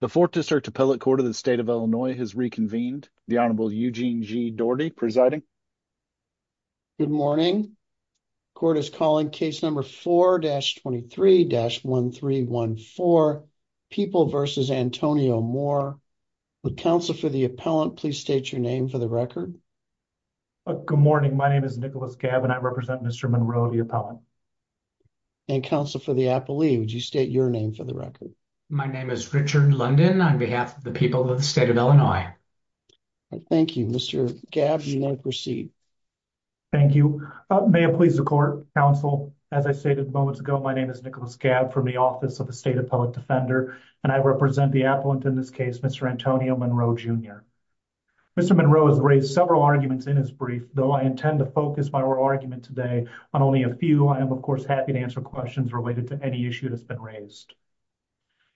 The 4th District Appellate Court of the State of Illinois has reconvened. The Honorable Eugene G. Doherty presiding. Good morning. Court is calling case number 4-23-1314. People versus Antonio Moore. Would counsel for the appellant please state your name for the record. Good morning. My name is Nicholas Gabb and I represent Mr. Monroe the appellant. And counsel for the appellee, would you state your name for the record. My name is Richard London on behalf of the people of the State of Illinois. Thank you. Mr. Gabb, you may proceed. Thank you. May it please the court, counsel, as I stated moments ago, my name is Nicholas Gabb from the Office of the State Appellate Defender, and I represent the appellant in this case, Mr. Antonio Monroe Jr. Mr. Monroe has raised several arguments in his brief, though I intend to focus my argument today on only a few. I am, of course, happy to answer questions related to any issue that's been raised.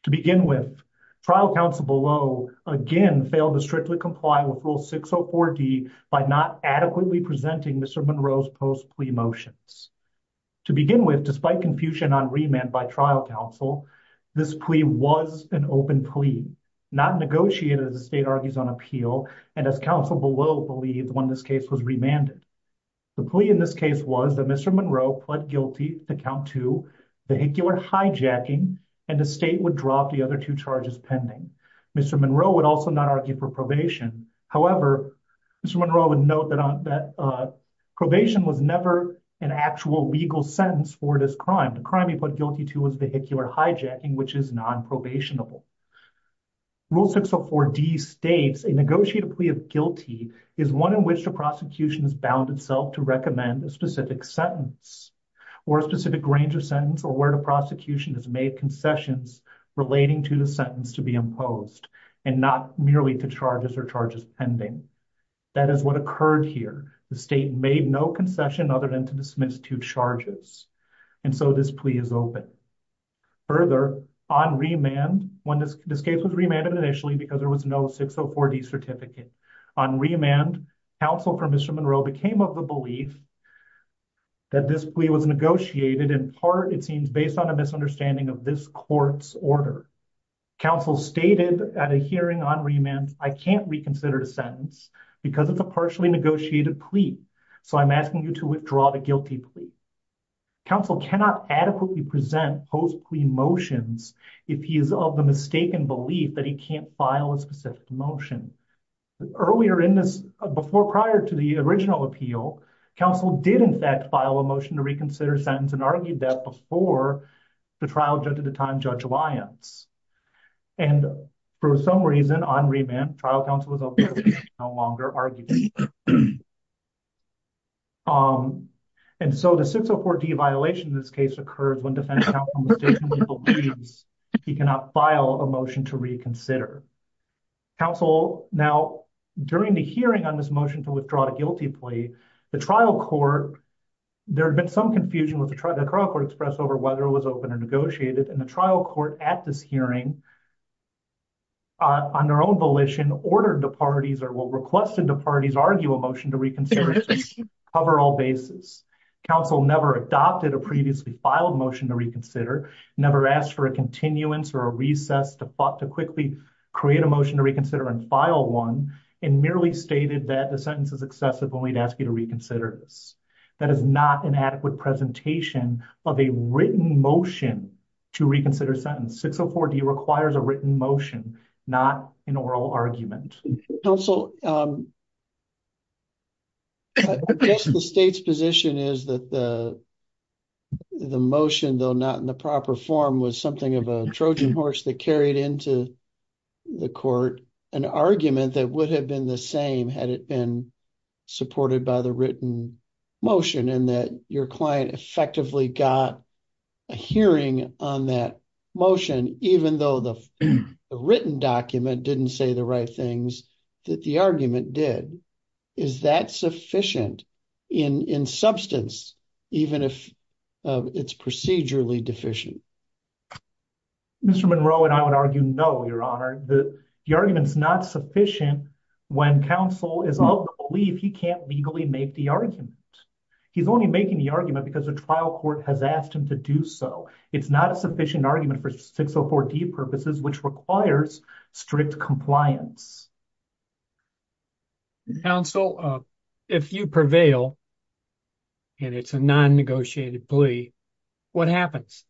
To begin with, trial counsel below, again, failed to strictly comply with Rule 604D by not adequately presenting Mr. Monroe's post plea motions. To begin with, despite confusion on remand by trial counsel, this plea was an open plea, not negotiated as the state argues on appeal, and as counsel below believed when this case was remanded. The plea in this case was that Mr. Monroe pled guilty to count two, vehicular hijacking, and the state would drop the other two charges pending. Mr. Monroe would also not argue for probation. However, Mr. Monroe would note that probation was never an actual legal sentence for this crime. The crime he pled guilty to was vehicular hijacking, which is non-probationable. Rule 604D states, a negotiated plea of guilty is one in which the prosecution is bound itself to recommend a specific sentence or a specific range of sentence or where the prosecution has made concessions relating to the sentence to be imposed and not merely to charges or charges pending. That is what occurred here. The state made no concession other than to dismiss two charges, and so this plea is open. Further, on remand, when this case was remanded initially because there was no 604D certificate, on remand, counsel for Mr. Monroe became of the belief that this plea was negotiated in part, it seems, based on a misunderstanding of this court's order. Counsel stated at a hearing on remand, I can't reconsider the sentence because it's a partially negotiated plea, so I'm asking you to withdraw the guilty plea. Counsel cannot adequately present post-plea motions if he is of the mistaken belief that he can't file a specific motion. Earlier in this, before prior to the original appeal, counsel did in fact file a motion to reconsider sentence and argued that before the trial judge at the time, Judge Lyons, and for some reason, on remand, trial counsel was no longer arguing. And so the 604D violation in this case occurs when defense counsel mistakenly believes he cannot file a motion to reconsider. Counsel now, during the hearing on this motion to withdraw the guilty plea, the trial court, there had been some confusion with the trial express over whether it was open or negotiated. And the trial court at this hearing, on their own volition, ordered the parties or will request the parties argue a motion to reconsider cover all bases. Counsel never adopted a previously filed motion to reconsider, never asked for a continuance or a recess to quickly create a motion to reconsider and file one, and merely stated that the sentence is excessive only to ask you to reconsider this. That is not an adequate presentation of a written motion to reconsider sentence. 604D requires a written motion, not an oral argument. Counsel, I guess the state's position is that the motion, though not in the proper form, was something of a Trojan horse that carried into the court, an argument that would have the same had it been supported by the written motion and that your client effectively got a hearing on that motion, even though the written document didn't say the right things that the argument did. Is that sufficient in substance, even if it's procedurally deficient? Mr. Monroe and I would argue no, your honor. The argument is not sufficient when counsel is of the belief he can't legally make the argument. He's only making the argument because the trial court has asked him to do so. It's not a sufficient argument for 604D purposes, which requires strict compliance. Counsel, if you prevail and it's a non-negotiated plea, what happens?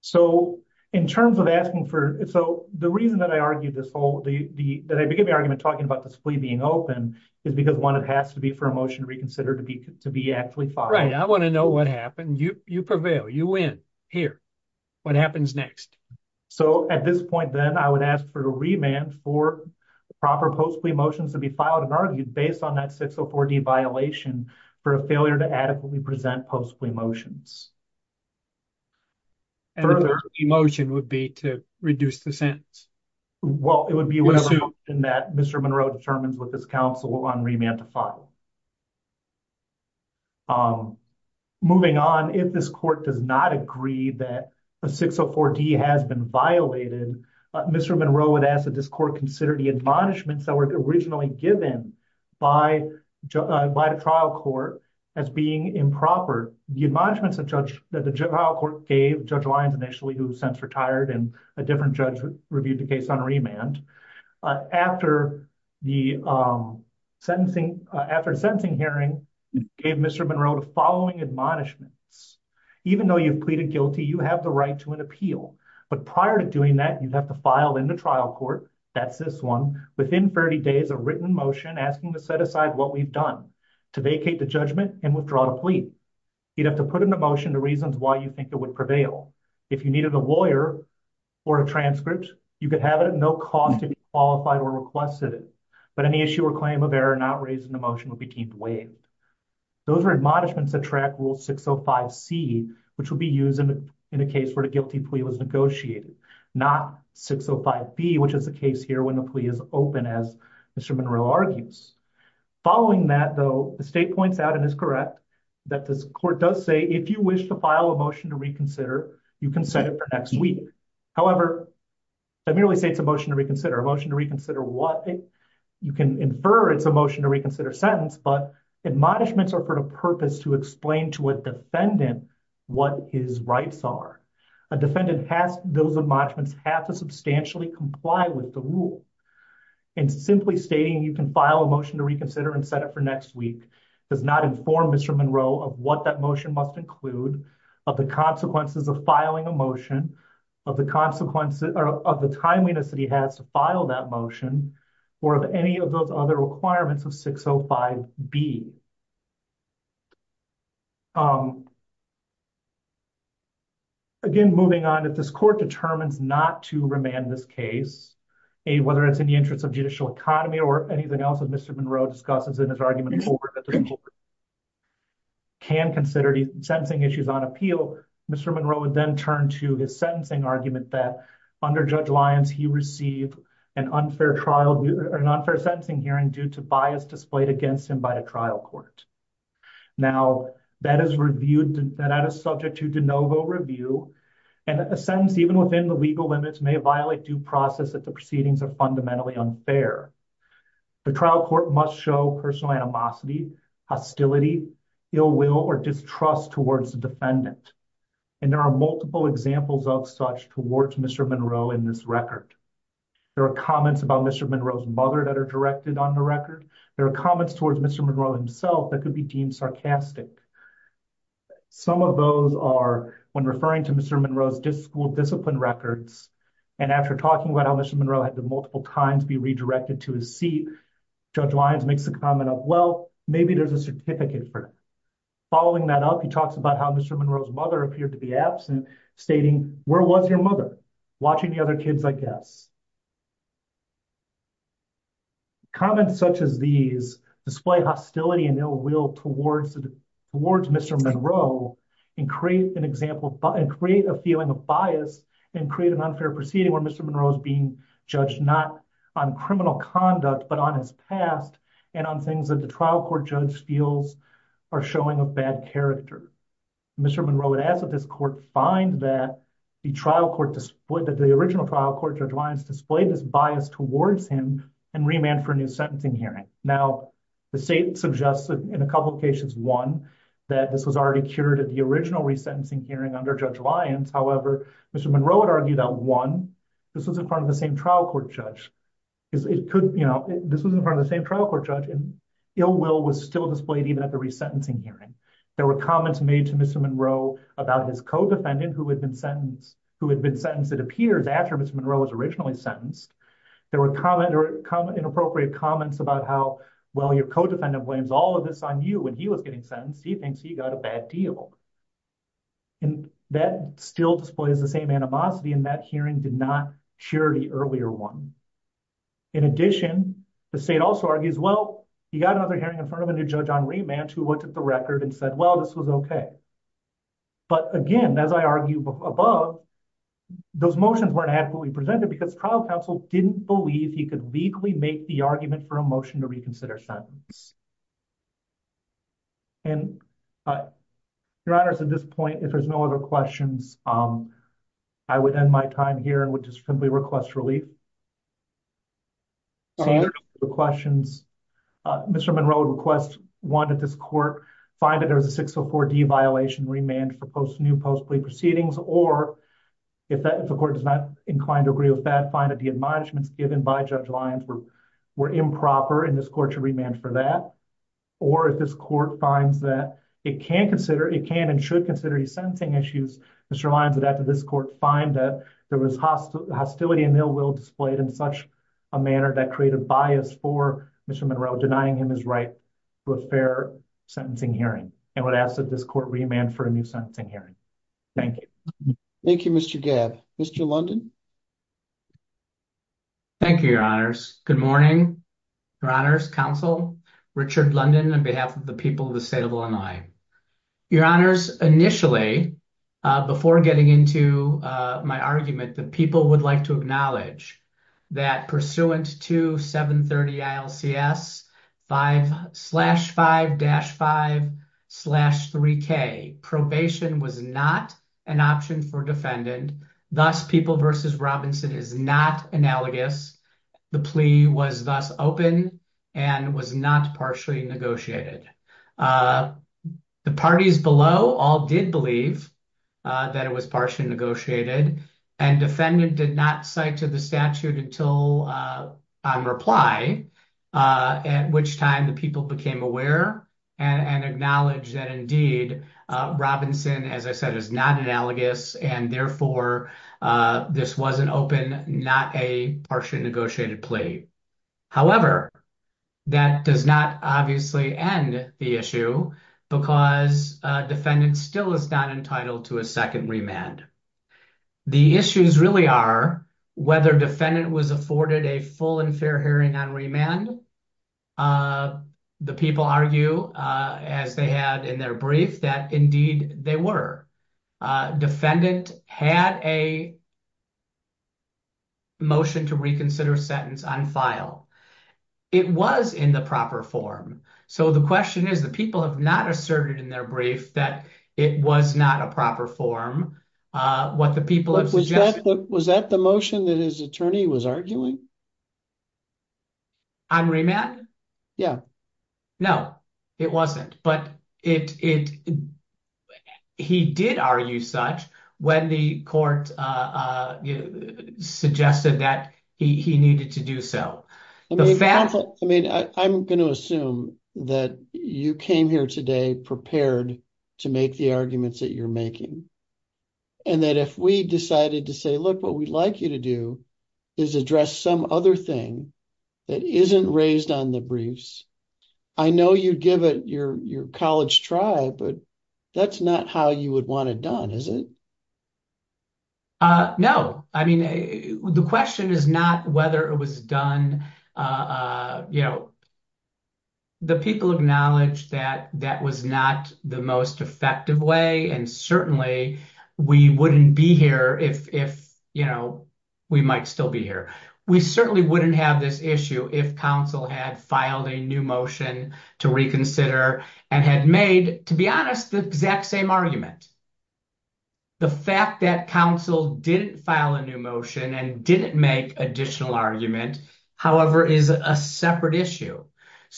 So in terms of asking for, so the reason that I argued this whole, that I began the argument talking about this plea being open is because one, it has to be for a motion to reconsider to be actually filed. Right, I want to know what happened. You prevail, you win. Here, what happens next? So at this point then, I would ask for a remand for proper post plea motions to be filed and argued based on that 604D violation for a failure to adequately present post plea motions. And the motion would be to reduce the sentence? Well, it would be whatever motion that Mr. Monroe determines with his counsel on remand to file. Moving on, if this court does not agree that a 604D has been violated, Mr. Monroe would ask that this court consider the admonishments that were originally given by the trial court as being improper. The admonishments that the trial court gave Judge Lyons initially, who since retired and a different judge reviewed the case on remand, after the sentencing hearing, gave Mr. Monroe the following admonishments. Even though you've pleaded guilty, you have the right to an appeal. But prior to doing that, you'd have to file in the trial court, that's this one, within 30 days, a written motion asking to set aside what we've done, to vacate the judgment and withdraw the plea. You'd have to put in the motion the reasons why you think it would prevail. If you needed a lawyer or a transcript, you could have it at no cost if you qualified or requested it. But any issue or claim of error not raised in the motion would be deemed waived. Those are admonishments that track Rule 605C, which would be used in a case where the guilty plea was negotiated, not 605B, which is the case here when the plea is open, as Mr. Monroe argues. Following that, though, the state points out and is correct that this court does say, if you wish to file a motion to reconsider, you can set it for next week. However, let me really say it's a motion to reconsider. A motion to reconsider what? You can infer it's a motion to reconsider sentence, but admonishments are for the purpose to explain to a defendant what his rights are. A defendant has those admonishments have to substantially comply with the rule. And simply stating you can file a motion to reconsider and set it for next week does not inform Mr. Monroe of what that motion must include, of the consequences of filing a motion, of the consequences or of the timeliness that he has to file that motion, or of any of those other requirements of 605B. Again, moving on, if this court determines not to remand this case, whether it's in the interest of judicial economy or anything else that Mr. Monroe discusses in his argument can consider sentencing issues on appeal, Mr. Monroe would then turn to his argument that under Judge Lyons, he received an unfair trial or an unfair sentencing hearing due to bias displayed against him by the trial court. Now that is reviewed, that is subject to de novo review, and a sentence even within the legal limits may violate due process if the proceedings are fundamentally unfair. The trial court must show personal animosity, hostility, ill will, or distrust towards the defendant. And there are multiple examples of such towards Mr. Monroe in this record. There are comments about Mr. Monroe's mother that are directed on the record. There are comments towards Mr. Monroe himself that could be deemed sarcastic. Some of those are when referring to Mr. Monroe's discipline records, and after talking about how Mr. Monroe had to multiple times be redirected to his seat, Judge Lyons makes the comment of, well, maybe there's a certificate for it. Following that up, he talks about how Mr. Monroe's mother appeared to be absent, stating, where was your mother? Watching the other kids, I guess. Comments such as these display hostility and ill will towards Mr. Monroe, and create an example, and create a feeling of bias, and create an unfair proceeding where Mr. Monroe is being judged not on criminal conduct, but on his past, and on things that the trial court judge feels are showing a bad character. Mr. Monroe would ask that this court find that the original trial court, Judge Lyons, displayed this bias towards him, and remand for a new sentencing hearing. Now, the state suggests that in a couple of cases, one, that this was already cured at the original resentencing hearing under Judge Lyons. However, Mr. Monroe would argue that, one, this was in front of the same trial court judge. This was in front of the same trial court judge, and ill will was still displayed even at the resentencing hearing. There were comments made to Mr. Monroe about his co-defendant, who had been sentenced, it appears, after Mr. Monroe was originally sentenced. There were inappropriate comments about how, well, your co-defendant blames all of this on you when he was getting sentenced. He thinks he got a bad deal. That still displays the same animosity, and that hearing did not cure the earlier one. In addition, the state also argues, well, he got another hearing in front of a new judge on remand who looked at the record and said, well, this was okay. But again, as I argued above, those motions weren't adequately presented because trial counsel didn't believe he could legally make the argument for a motion to reconsider their sentence. Your Honor, at this point, if there's no other questions, I would end my time here and would just simply request relief. Seeing no further questions, Mr. Monroe would request, one, that this court find that there was a 604D violation remand for new post-plea proceedings, or if the court does not incline to agree with that, find that the admonishments given by Judge Lyons were improper in this court to remand for that, or if this court finds that it can and should consider these sentencing issues, Mr. Lyons, that after this court find that there was hostility and ill will displayed in such a manner that created bias for Mr. Monroe, denying him his right to a fair sentencing hearing. I would ask that this court remand for a new sentencing hearing. Thank you. Thank you, Mr. Gabb. Mr. London? Thank you, Your Honors. Good morning, Your Honors, counsel Richard London, on behalf of the people of the state of Illinois. Your Honors, initially, before getting into my argument, the people would like to acknowledge that pursuant to 730 ILCS 5-5-5-3K, probation was not an option for defendant, thus people versus Robinson is not analogous. The plea was thus open and was not partially negotiated. The parties below all did believe that it was partially negotiated, and defendant did not cite to the statute until on reply, at which time the people became aware and acknowledged that Robinson, as I said, is not analogous, and therefore, this wasn't open, not a partially negotiated plea. However, that does not obviously end the issue because defendant still is not entitled to a second remand. The issues really are whether defendant was afforded a full and that, indeed, they were. Defendant had a motion to reconsider sentence on file. It was in the proper form, so the question is the people have not asserted in their brief that it was not a proper form. What the people have suggested... Was that the motion that his attorney was arguing? On remand? Yeah. No, it wasn't, but he did argue such when the court suggested that he needed to do so. I mean, I'm going to assume that you came here today prepared to make the arguments that you're making, and that if we decided to say, look, what we'd like you to do is address some of other thing that isn't raised on the briefs. I know you'd give it your college try, but that's not how you would want it done, is it? No. I mean, the question is not whether it was done. The people acknowledged that that was not the most effective way, and certainly, we wouldn't be here if we might still be here. We certainly wouldn't have this issue if counsel had filed a new motion to reconsider and had made, to be honest, the exact same argument. The fact that counsel didn't file a new motion and didn't make additional argument, however, is a separate issue.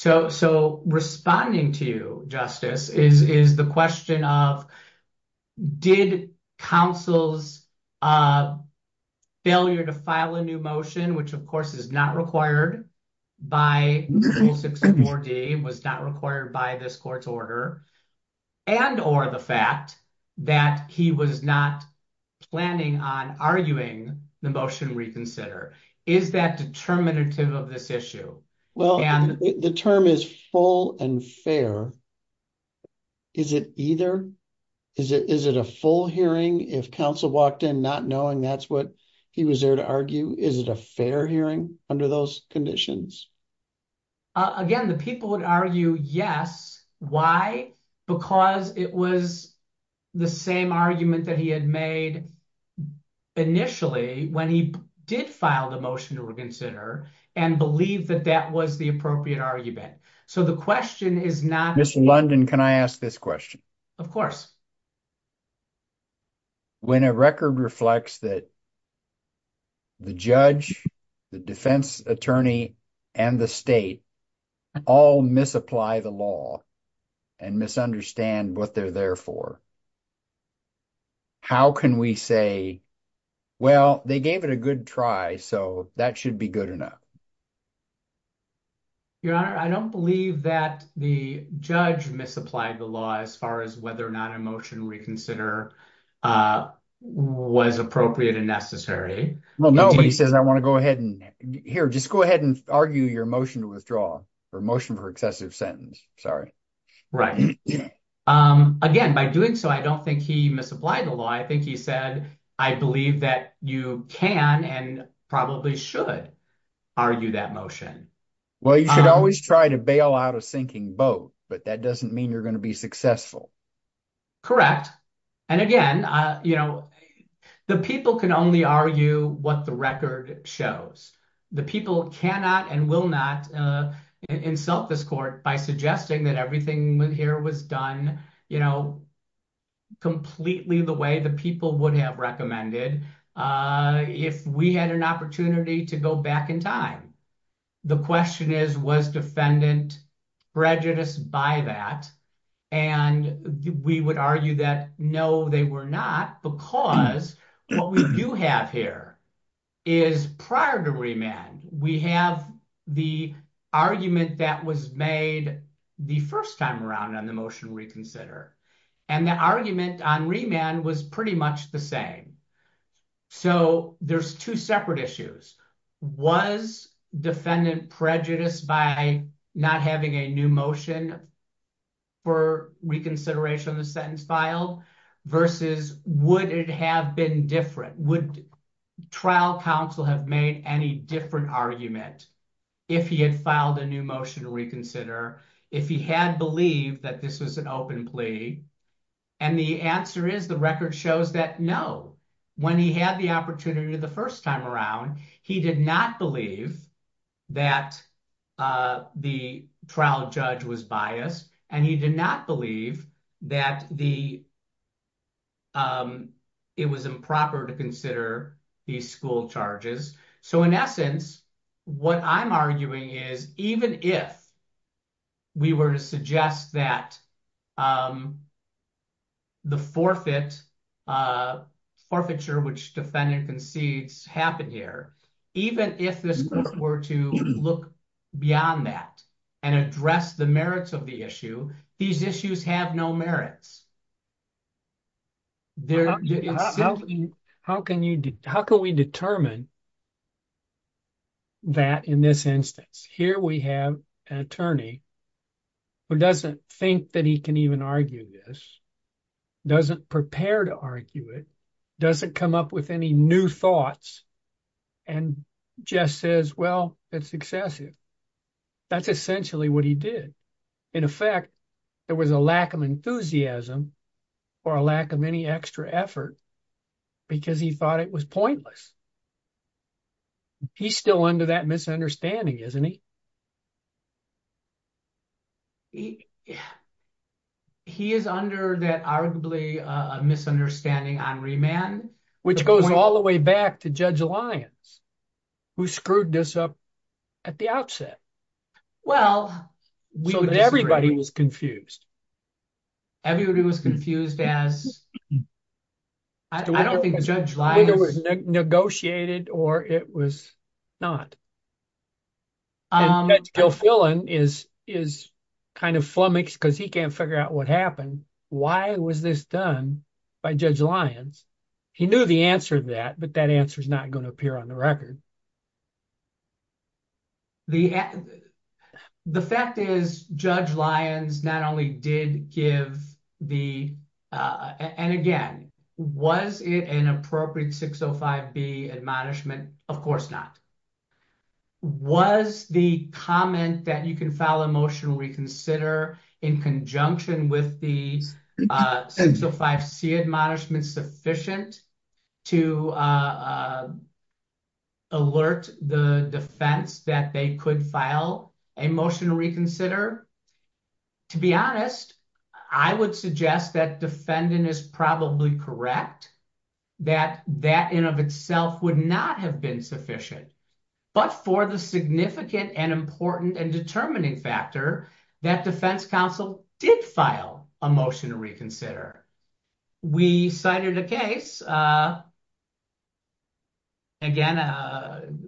Responding to you, Justice, is the question of did counsel's failure to file a new motion, which, of course, is not required by Rule 64D, was not required by this court's order, and or the fact that he was not planning on arguing the motion reconsider. Is that determinative of this issue? Well, the term is full and fair. Is it either? Is it a full hearing if counsel walked in not knowing that's what he was there to argue? Is it a fair hearing under those conditions? Again, the people would argue yes. Why? Because it was the same argument that he had made initially when he did file the motion to reconsider and believe that that was the appropriate argument. So, the question is not... Mr. London, can I ask this question? Of course. When a record reflects that the judge, the defense attorney, and the state all misapply the law and misunderstand what they're there for, how can we say, well, they gave it a good try, so that should be good enough? Your Honor, I don't believe that the judge misapplied the law as far as whether or not a motion reconsider was appropriate and necessary. Well, no, but he says I want to go ahead and... Here, just go ahead and argue your motion to withdraw or motion for excessive sentence. Sorry. Right. Again, by doing so, I don't think he misapplied the law. I think he said, I believe that you can and probably should argue that motion. Well, you should always try to bail out a sinking boat, but that doesn't mean you're going to be successful. Correct. And again, the people can only argue what the record shows. The people cannot and will not insult this court by suggesting that everything here was done completely the way the people would have recommended if we had an opportunity to go back in time. The question is, was defendant prejudiced by that? And we would argue that, they were not, because what we do have here is prior to remand, we have the argument that was made the first time around on the motion reconsider. And the argument on remand was pretty much the same. So there's two separate issues. Was defendant prejudiced by not having a new motion for reconsideration of the sentence filed versus would it have been different? Would trial counsel have made any different argument if he had filed a new motion to reconsider, if he had believed that this was an open plea? And the answer is the record shows that no, when he had the opportunity the first time around, he did not believe that the trial judge was biased and he did not believe that it was improper to consider these school charges. So in essence, what I'm arguing is even if we were to suggest that the forfeiture which defendant concedes happened here, even if this court were to look beyond that and address the merits of the issue, these issues have no merits. How can we determine that in this instance? Here we have an attorney who doesn't think that he can even argue this, doesn't prepare to argue it, doesn't come up with any new thoughts and just says, well, it's excessive. That's essentially what he did. In effect, there was a lack of enthusiasm or a lack of any extra effort because he thought it was pointless. He's still under that misunderstanding, isn't he? Yeah. He is under that arguably a misunderstanding on remand. Which goes all the way back to Judge Lyons who screwed this up at the outset. Well, everybody was confused. Everybody was confused as I don't think Judge Lyons negotiated or it was not. And Judge Gilfillan is kind of flummoxed because he can't figure out what happened. Why was this done by Judge Lyons? He knew the answer to that, but that answer's not going to appear on the record. The fact is Judge Lyons not only did give the, and again, was it an appropriate 605B admonishment? Of course not. Was the comment that you can file a motion to reconsider in conjunction with the 605C admonishment sufficient to alert the defense that they could file a motion to reconsider? To be honest, I would suggest that defendant is probably correct, that that in of itself would not have been sufficient. But for the significant and important and determining factor that defense counsel did file a motion to reconsider. We cited a case. Again,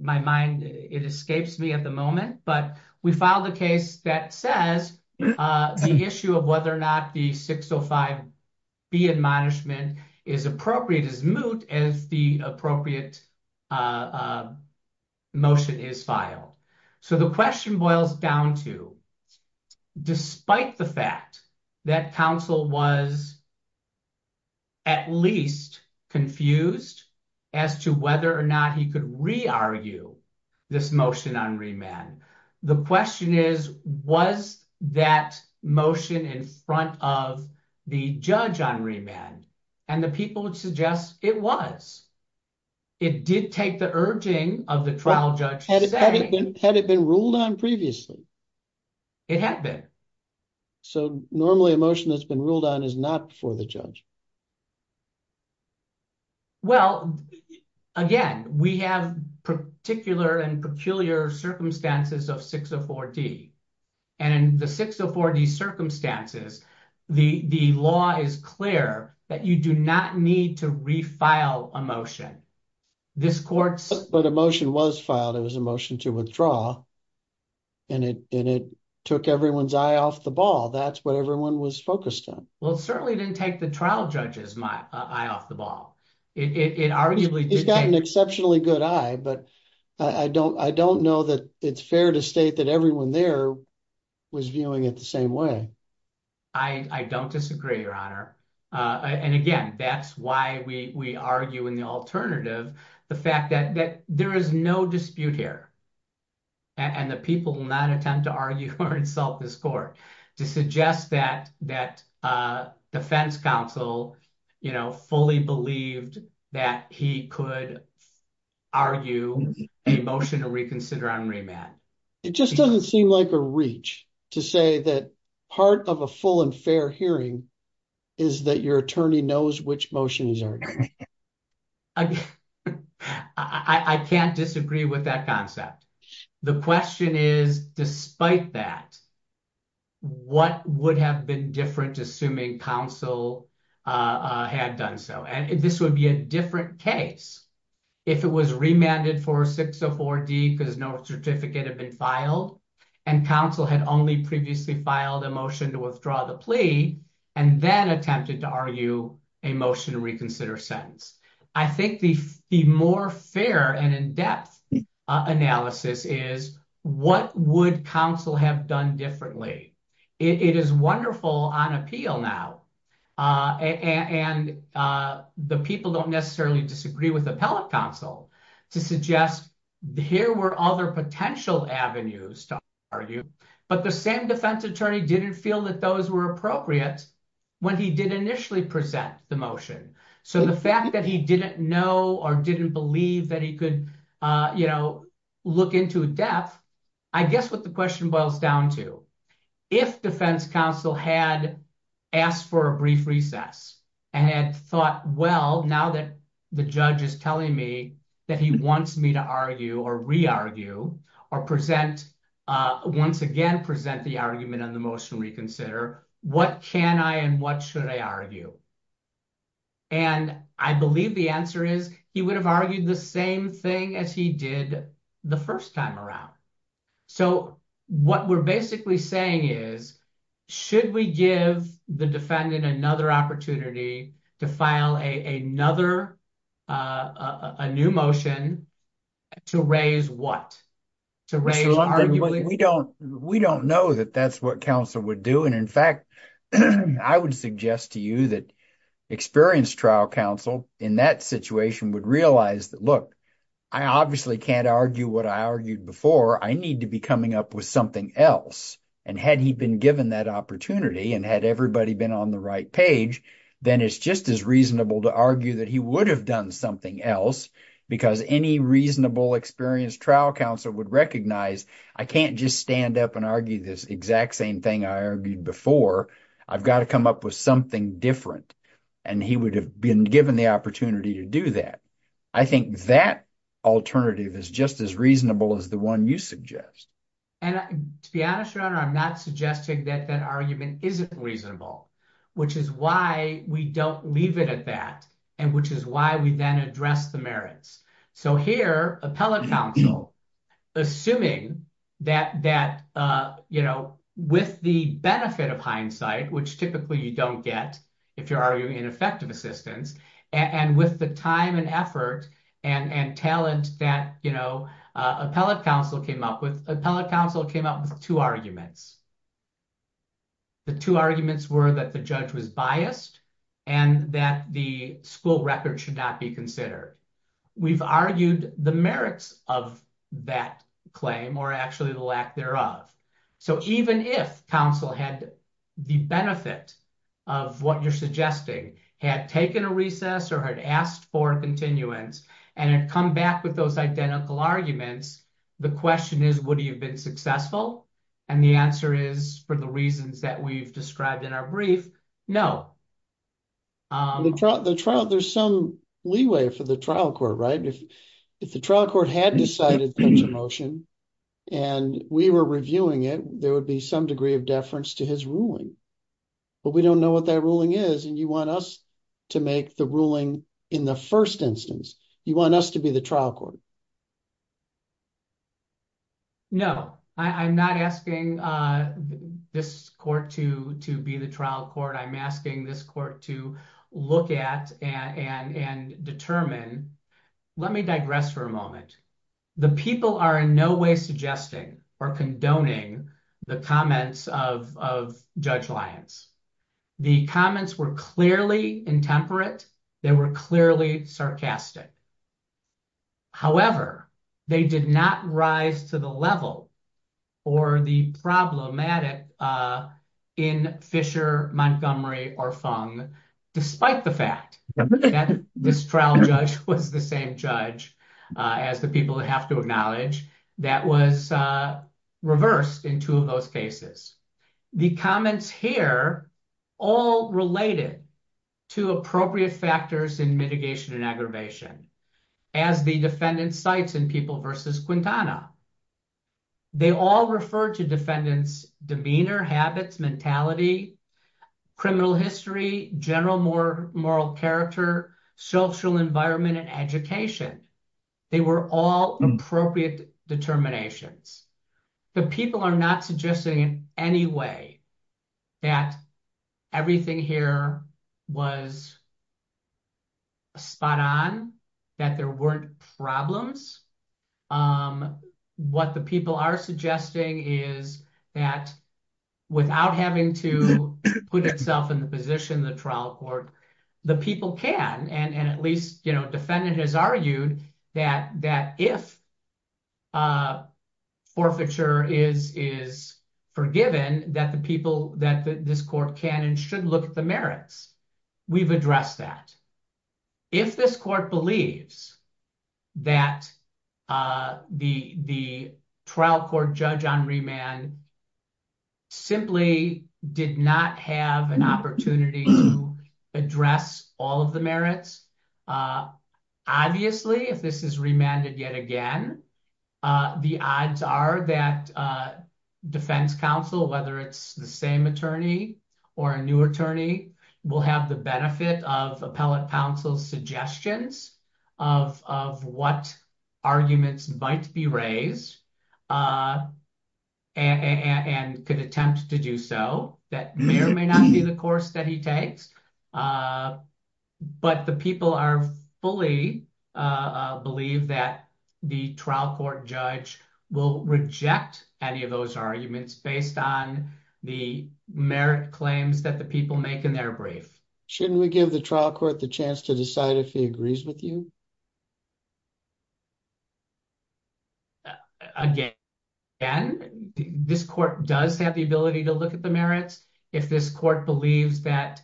my mind, it escapes me at the moment, but we filed a case that says the issue of whether or not the 605B admonishment is appropriate as moot as the appropriate motion is filed. So the question boils down to despite the fact that counsel was at least confused as to whether or not he could re-argue this motion on remand. The question is, was that motion in front of the judge on remand? And the people would suggest it was. It did take the urging of the trial judge. Had it been ruled on previously? It had been. So normally a motion that's been ruled on is not for the judge? Well, again, we have particular and peculiar circumstances of 604D. And in the 604D circumstances, the law is clear that you do not need to re-file a motion. This court's... But a motion was filed. It was a motion to withdraw. And it took everyone's eye off the ball. That's what everyone was focused on. Well, it certainly didn't take the trial judge's eye off the ball. It arguably... He's got an exceptionally good eye, but I don't know that it's fair to state that everyone there was viewing it the same way. I don't disagree, Your Honor. And again, that's why we argue in the alternative, the fact that there is no dispute here. And the people will not attempt to argue or insult this court to suggest that defense counsel fully believed that he could argue a motion to reconsider on remand. It just doesn't seem like a reach to say that part of a full and fair hearing is that your attorney knows which motion is argued. I can't disagree with that concept. The question is, despite that, what would have been different assuming counsel had done so? And this would be a different case if it was remanded for 604D because no certificate had been filed and counsel had only previously filed a motion to withdraw the plea and then attempted to argue a motion to reconsider sentence. I think the more fair and in-depth analysis is what would counsel have done differently? It is wonderful on appeal now, and the people don't necessarily disagree with appellate counsel to suggest here were other potential avenues to argue, but the same defense attorney didn't feel that those were appropriate when he did initially present the motion. So the fact that he didn't know or didn't believe that he could look into a death, I guess what the question boils down to, if defense counsel had asked for a brief recess and had thought, well, now that the judge is telling me that he wants me to argue or re-argue or once again present the argument on the motion reconsider, what can I and what should I argue? And I believe the answer is he would have argued the same thing as he did the first time around. So what we're basically saying is, should we give the defendant another opportunity to file a new motion to raise what? We don't know that that's what counsel would do. And in fact, I would suggest to you that experienced trial counsel in that situation would realize that, look, I obviously can't argue what I argued before. I need to be coming up with something else. And had he been given that opportunity and had everybody been on the right page, then it's just as reasonable to argue that he would have done something else because any reasonable experienced trial counsel would recognize, I can't just stand up and argue this exact same thing I argued before. I've got to come up with something different. And he would have been given the opportunity to do that. I think that alternative is just as reasonable as the one you suggest. And to be honest, your honor, I'm not suggesting that that argument isn't reasonable, which is why we don't leave it at that and which is why we then address the merits. So here, appellate counsel, assuming that with the benefit of hindsight, which typically you don't get if you're arguing in effective assistance and with the time and effort and talent that appellate counsel came up with, appellate counsel came up with two arguments. The two arguments were that the judge was biased and that the school record should not be considered. We've argued the merits of that claim or actually the lack thereof. So even if counsel had the benefit of what you're suggesting, had taken a recess or had asked for continuance and had come back with those identical arguments, the question is, would he have been successful? And the answer is, for the reasons that we've described in our brief, no. There's some leeway for the trial court, right? If the trial court had decided to make a motion and we were reviewing it, there would be some degree of deference to his ruling. But we don't know what that ruling is and you want us to make the ruling in the first instance. You want us to be the trial court. No, I'm not asking this court to be the trial court. I'm asking this court to look at and determine. Let me digress for a moment. The people are in no way suggesting or condoning the comments of Judge Lyons. The comments were clearly intemperate. They were clearly sarcastic. However, they did not rise to the level or the problematic in Fisher, Montgomery, or Fung, despite the fact that this trial judge was the same judge as the people that have to acknowledge that was reversed in two of those cases. The comments here all related to appropriate factors in mitigation and aggravation. As the defendant cites in People v. Quintana, they all refer to defendants' demeanor, habits, mentality, criminal history, general moral character, social environment, and education. They were all appropriate determinations. The people are not suggesting in any way that everything here was spot on, that there weren't problems. What the people are suggesting is that without having to put itself in the position of the trial court, the people can, and at least defendant has argued that if forfeiture is forgiven, that this court can and should look at the merits. We've addressed that. If this court believes that the trial court judge on remand simply did not have an opportunity to address all of the merits, obviously, if this is remanded yet again, the odds are that defense counsel, whether it's the same attorney or a new attorney, will have the benefit of appellate counsel's suggestions of what arguments might be raised and could attempt to do so. That may or may not be the course that he takes, but the people fully believe that the trial court judge will reject any of those arguments based on the merit claims that the people make in their brief. Shouldn't we give the trial court the chance to decide if he agrees with you? Again, this court does have the ability to look at the merits. If this court believes that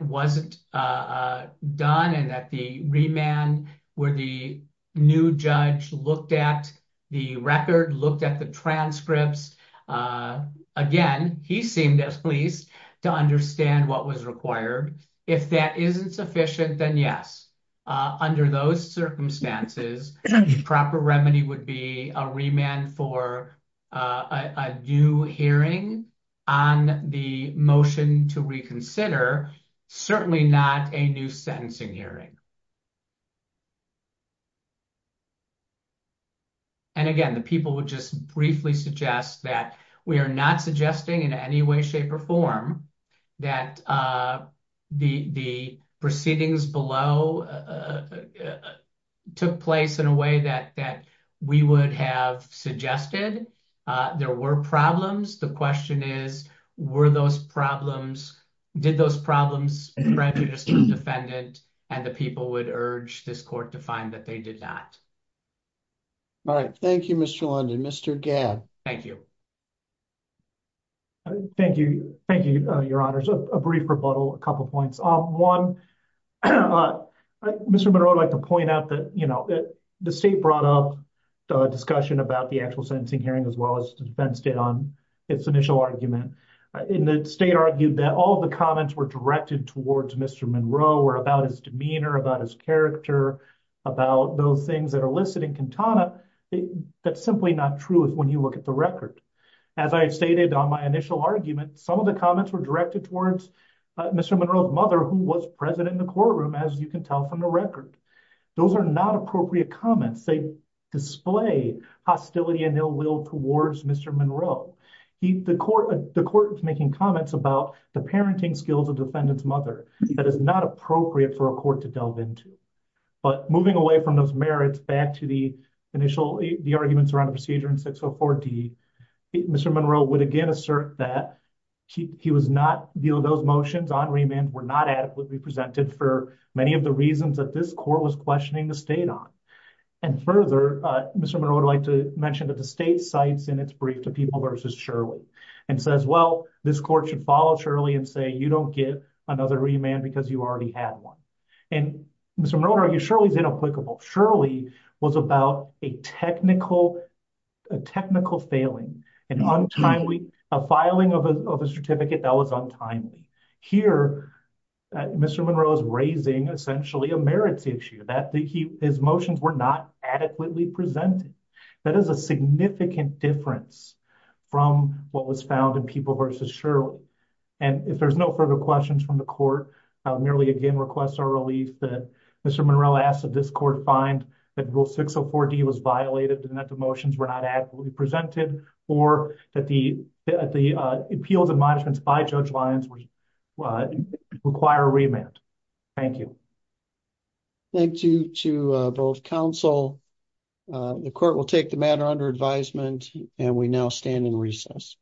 wasn't done and that the remand where the new judge looked at the record, looked at the transcripts, again, he seemed at least to understand what was required. If that isn't sufficient, then yes, under those circumstances, the proper remedy would be a remand for a new hearing on the motion to reconsider, certainly not a new sentencing hearing. Again, the people would just briefly suggest that we are not suggesting in any way, shape, or form that the proceedings below took place in a way that we would have suggested. There were problems. The question is, did those problems prejudice the defendant and the people who urged this court to find that they did not? Thank you, Mr. London. Mr. Gad. Thank you. Thank you, your honors. A brief rebuttal, a couple of points. One, Mr. Monroe, I'd like to point out that the state brought up the discussion about the actual sentencing hearing as well as the defense did on its initial argument. The state argued that all comments were directed towards Mr. Monroe or about his demeanor, about his character, about those things that are listed in Cantana. That's simply not true when you look at the record. As I stated on my initial argument, some of the comments were directed towards Mr. Monroe's mother, who was present in the courtroom, as you can tell from the record. Those are not appropriate comments. They display hostility and ill will towards Mr. Monroe. The court was making comments about the parenting skills of defendant's mother. That is not appropriate for a court to delve into. Moving away from those merits back to the arguments around the procedure in 604D, Mr. Monroe would again assert that those motions on remand were not adequately presented for many of the reasons that this court was questioning the state on. Further, Mr. Monroe would like to mention that the state cites in its brief to people versus Shirley and says, well, this court should follow Shirley and say you don't get another remand because you already had one. Mr. Monroe argues Shirley is inapplicable. Shirley was about a technical failing, a filing of a certificate that was untimely. Here, Mr. Monroe is raising essentially a merits issue, that his motions were not adequately presented. That is a significant difference from what was found in people versus Shirley. If there's no further questions from the court, I merely again request our relief that Mr. Monroe asks that this court find that rule 604D was violated and that the motions were not adequately presented or that the appeals and modifications by Judge Lyons require a remand. Thank you. Thank you to both counsel. The court will take the matter under advisement and we now stand in recess.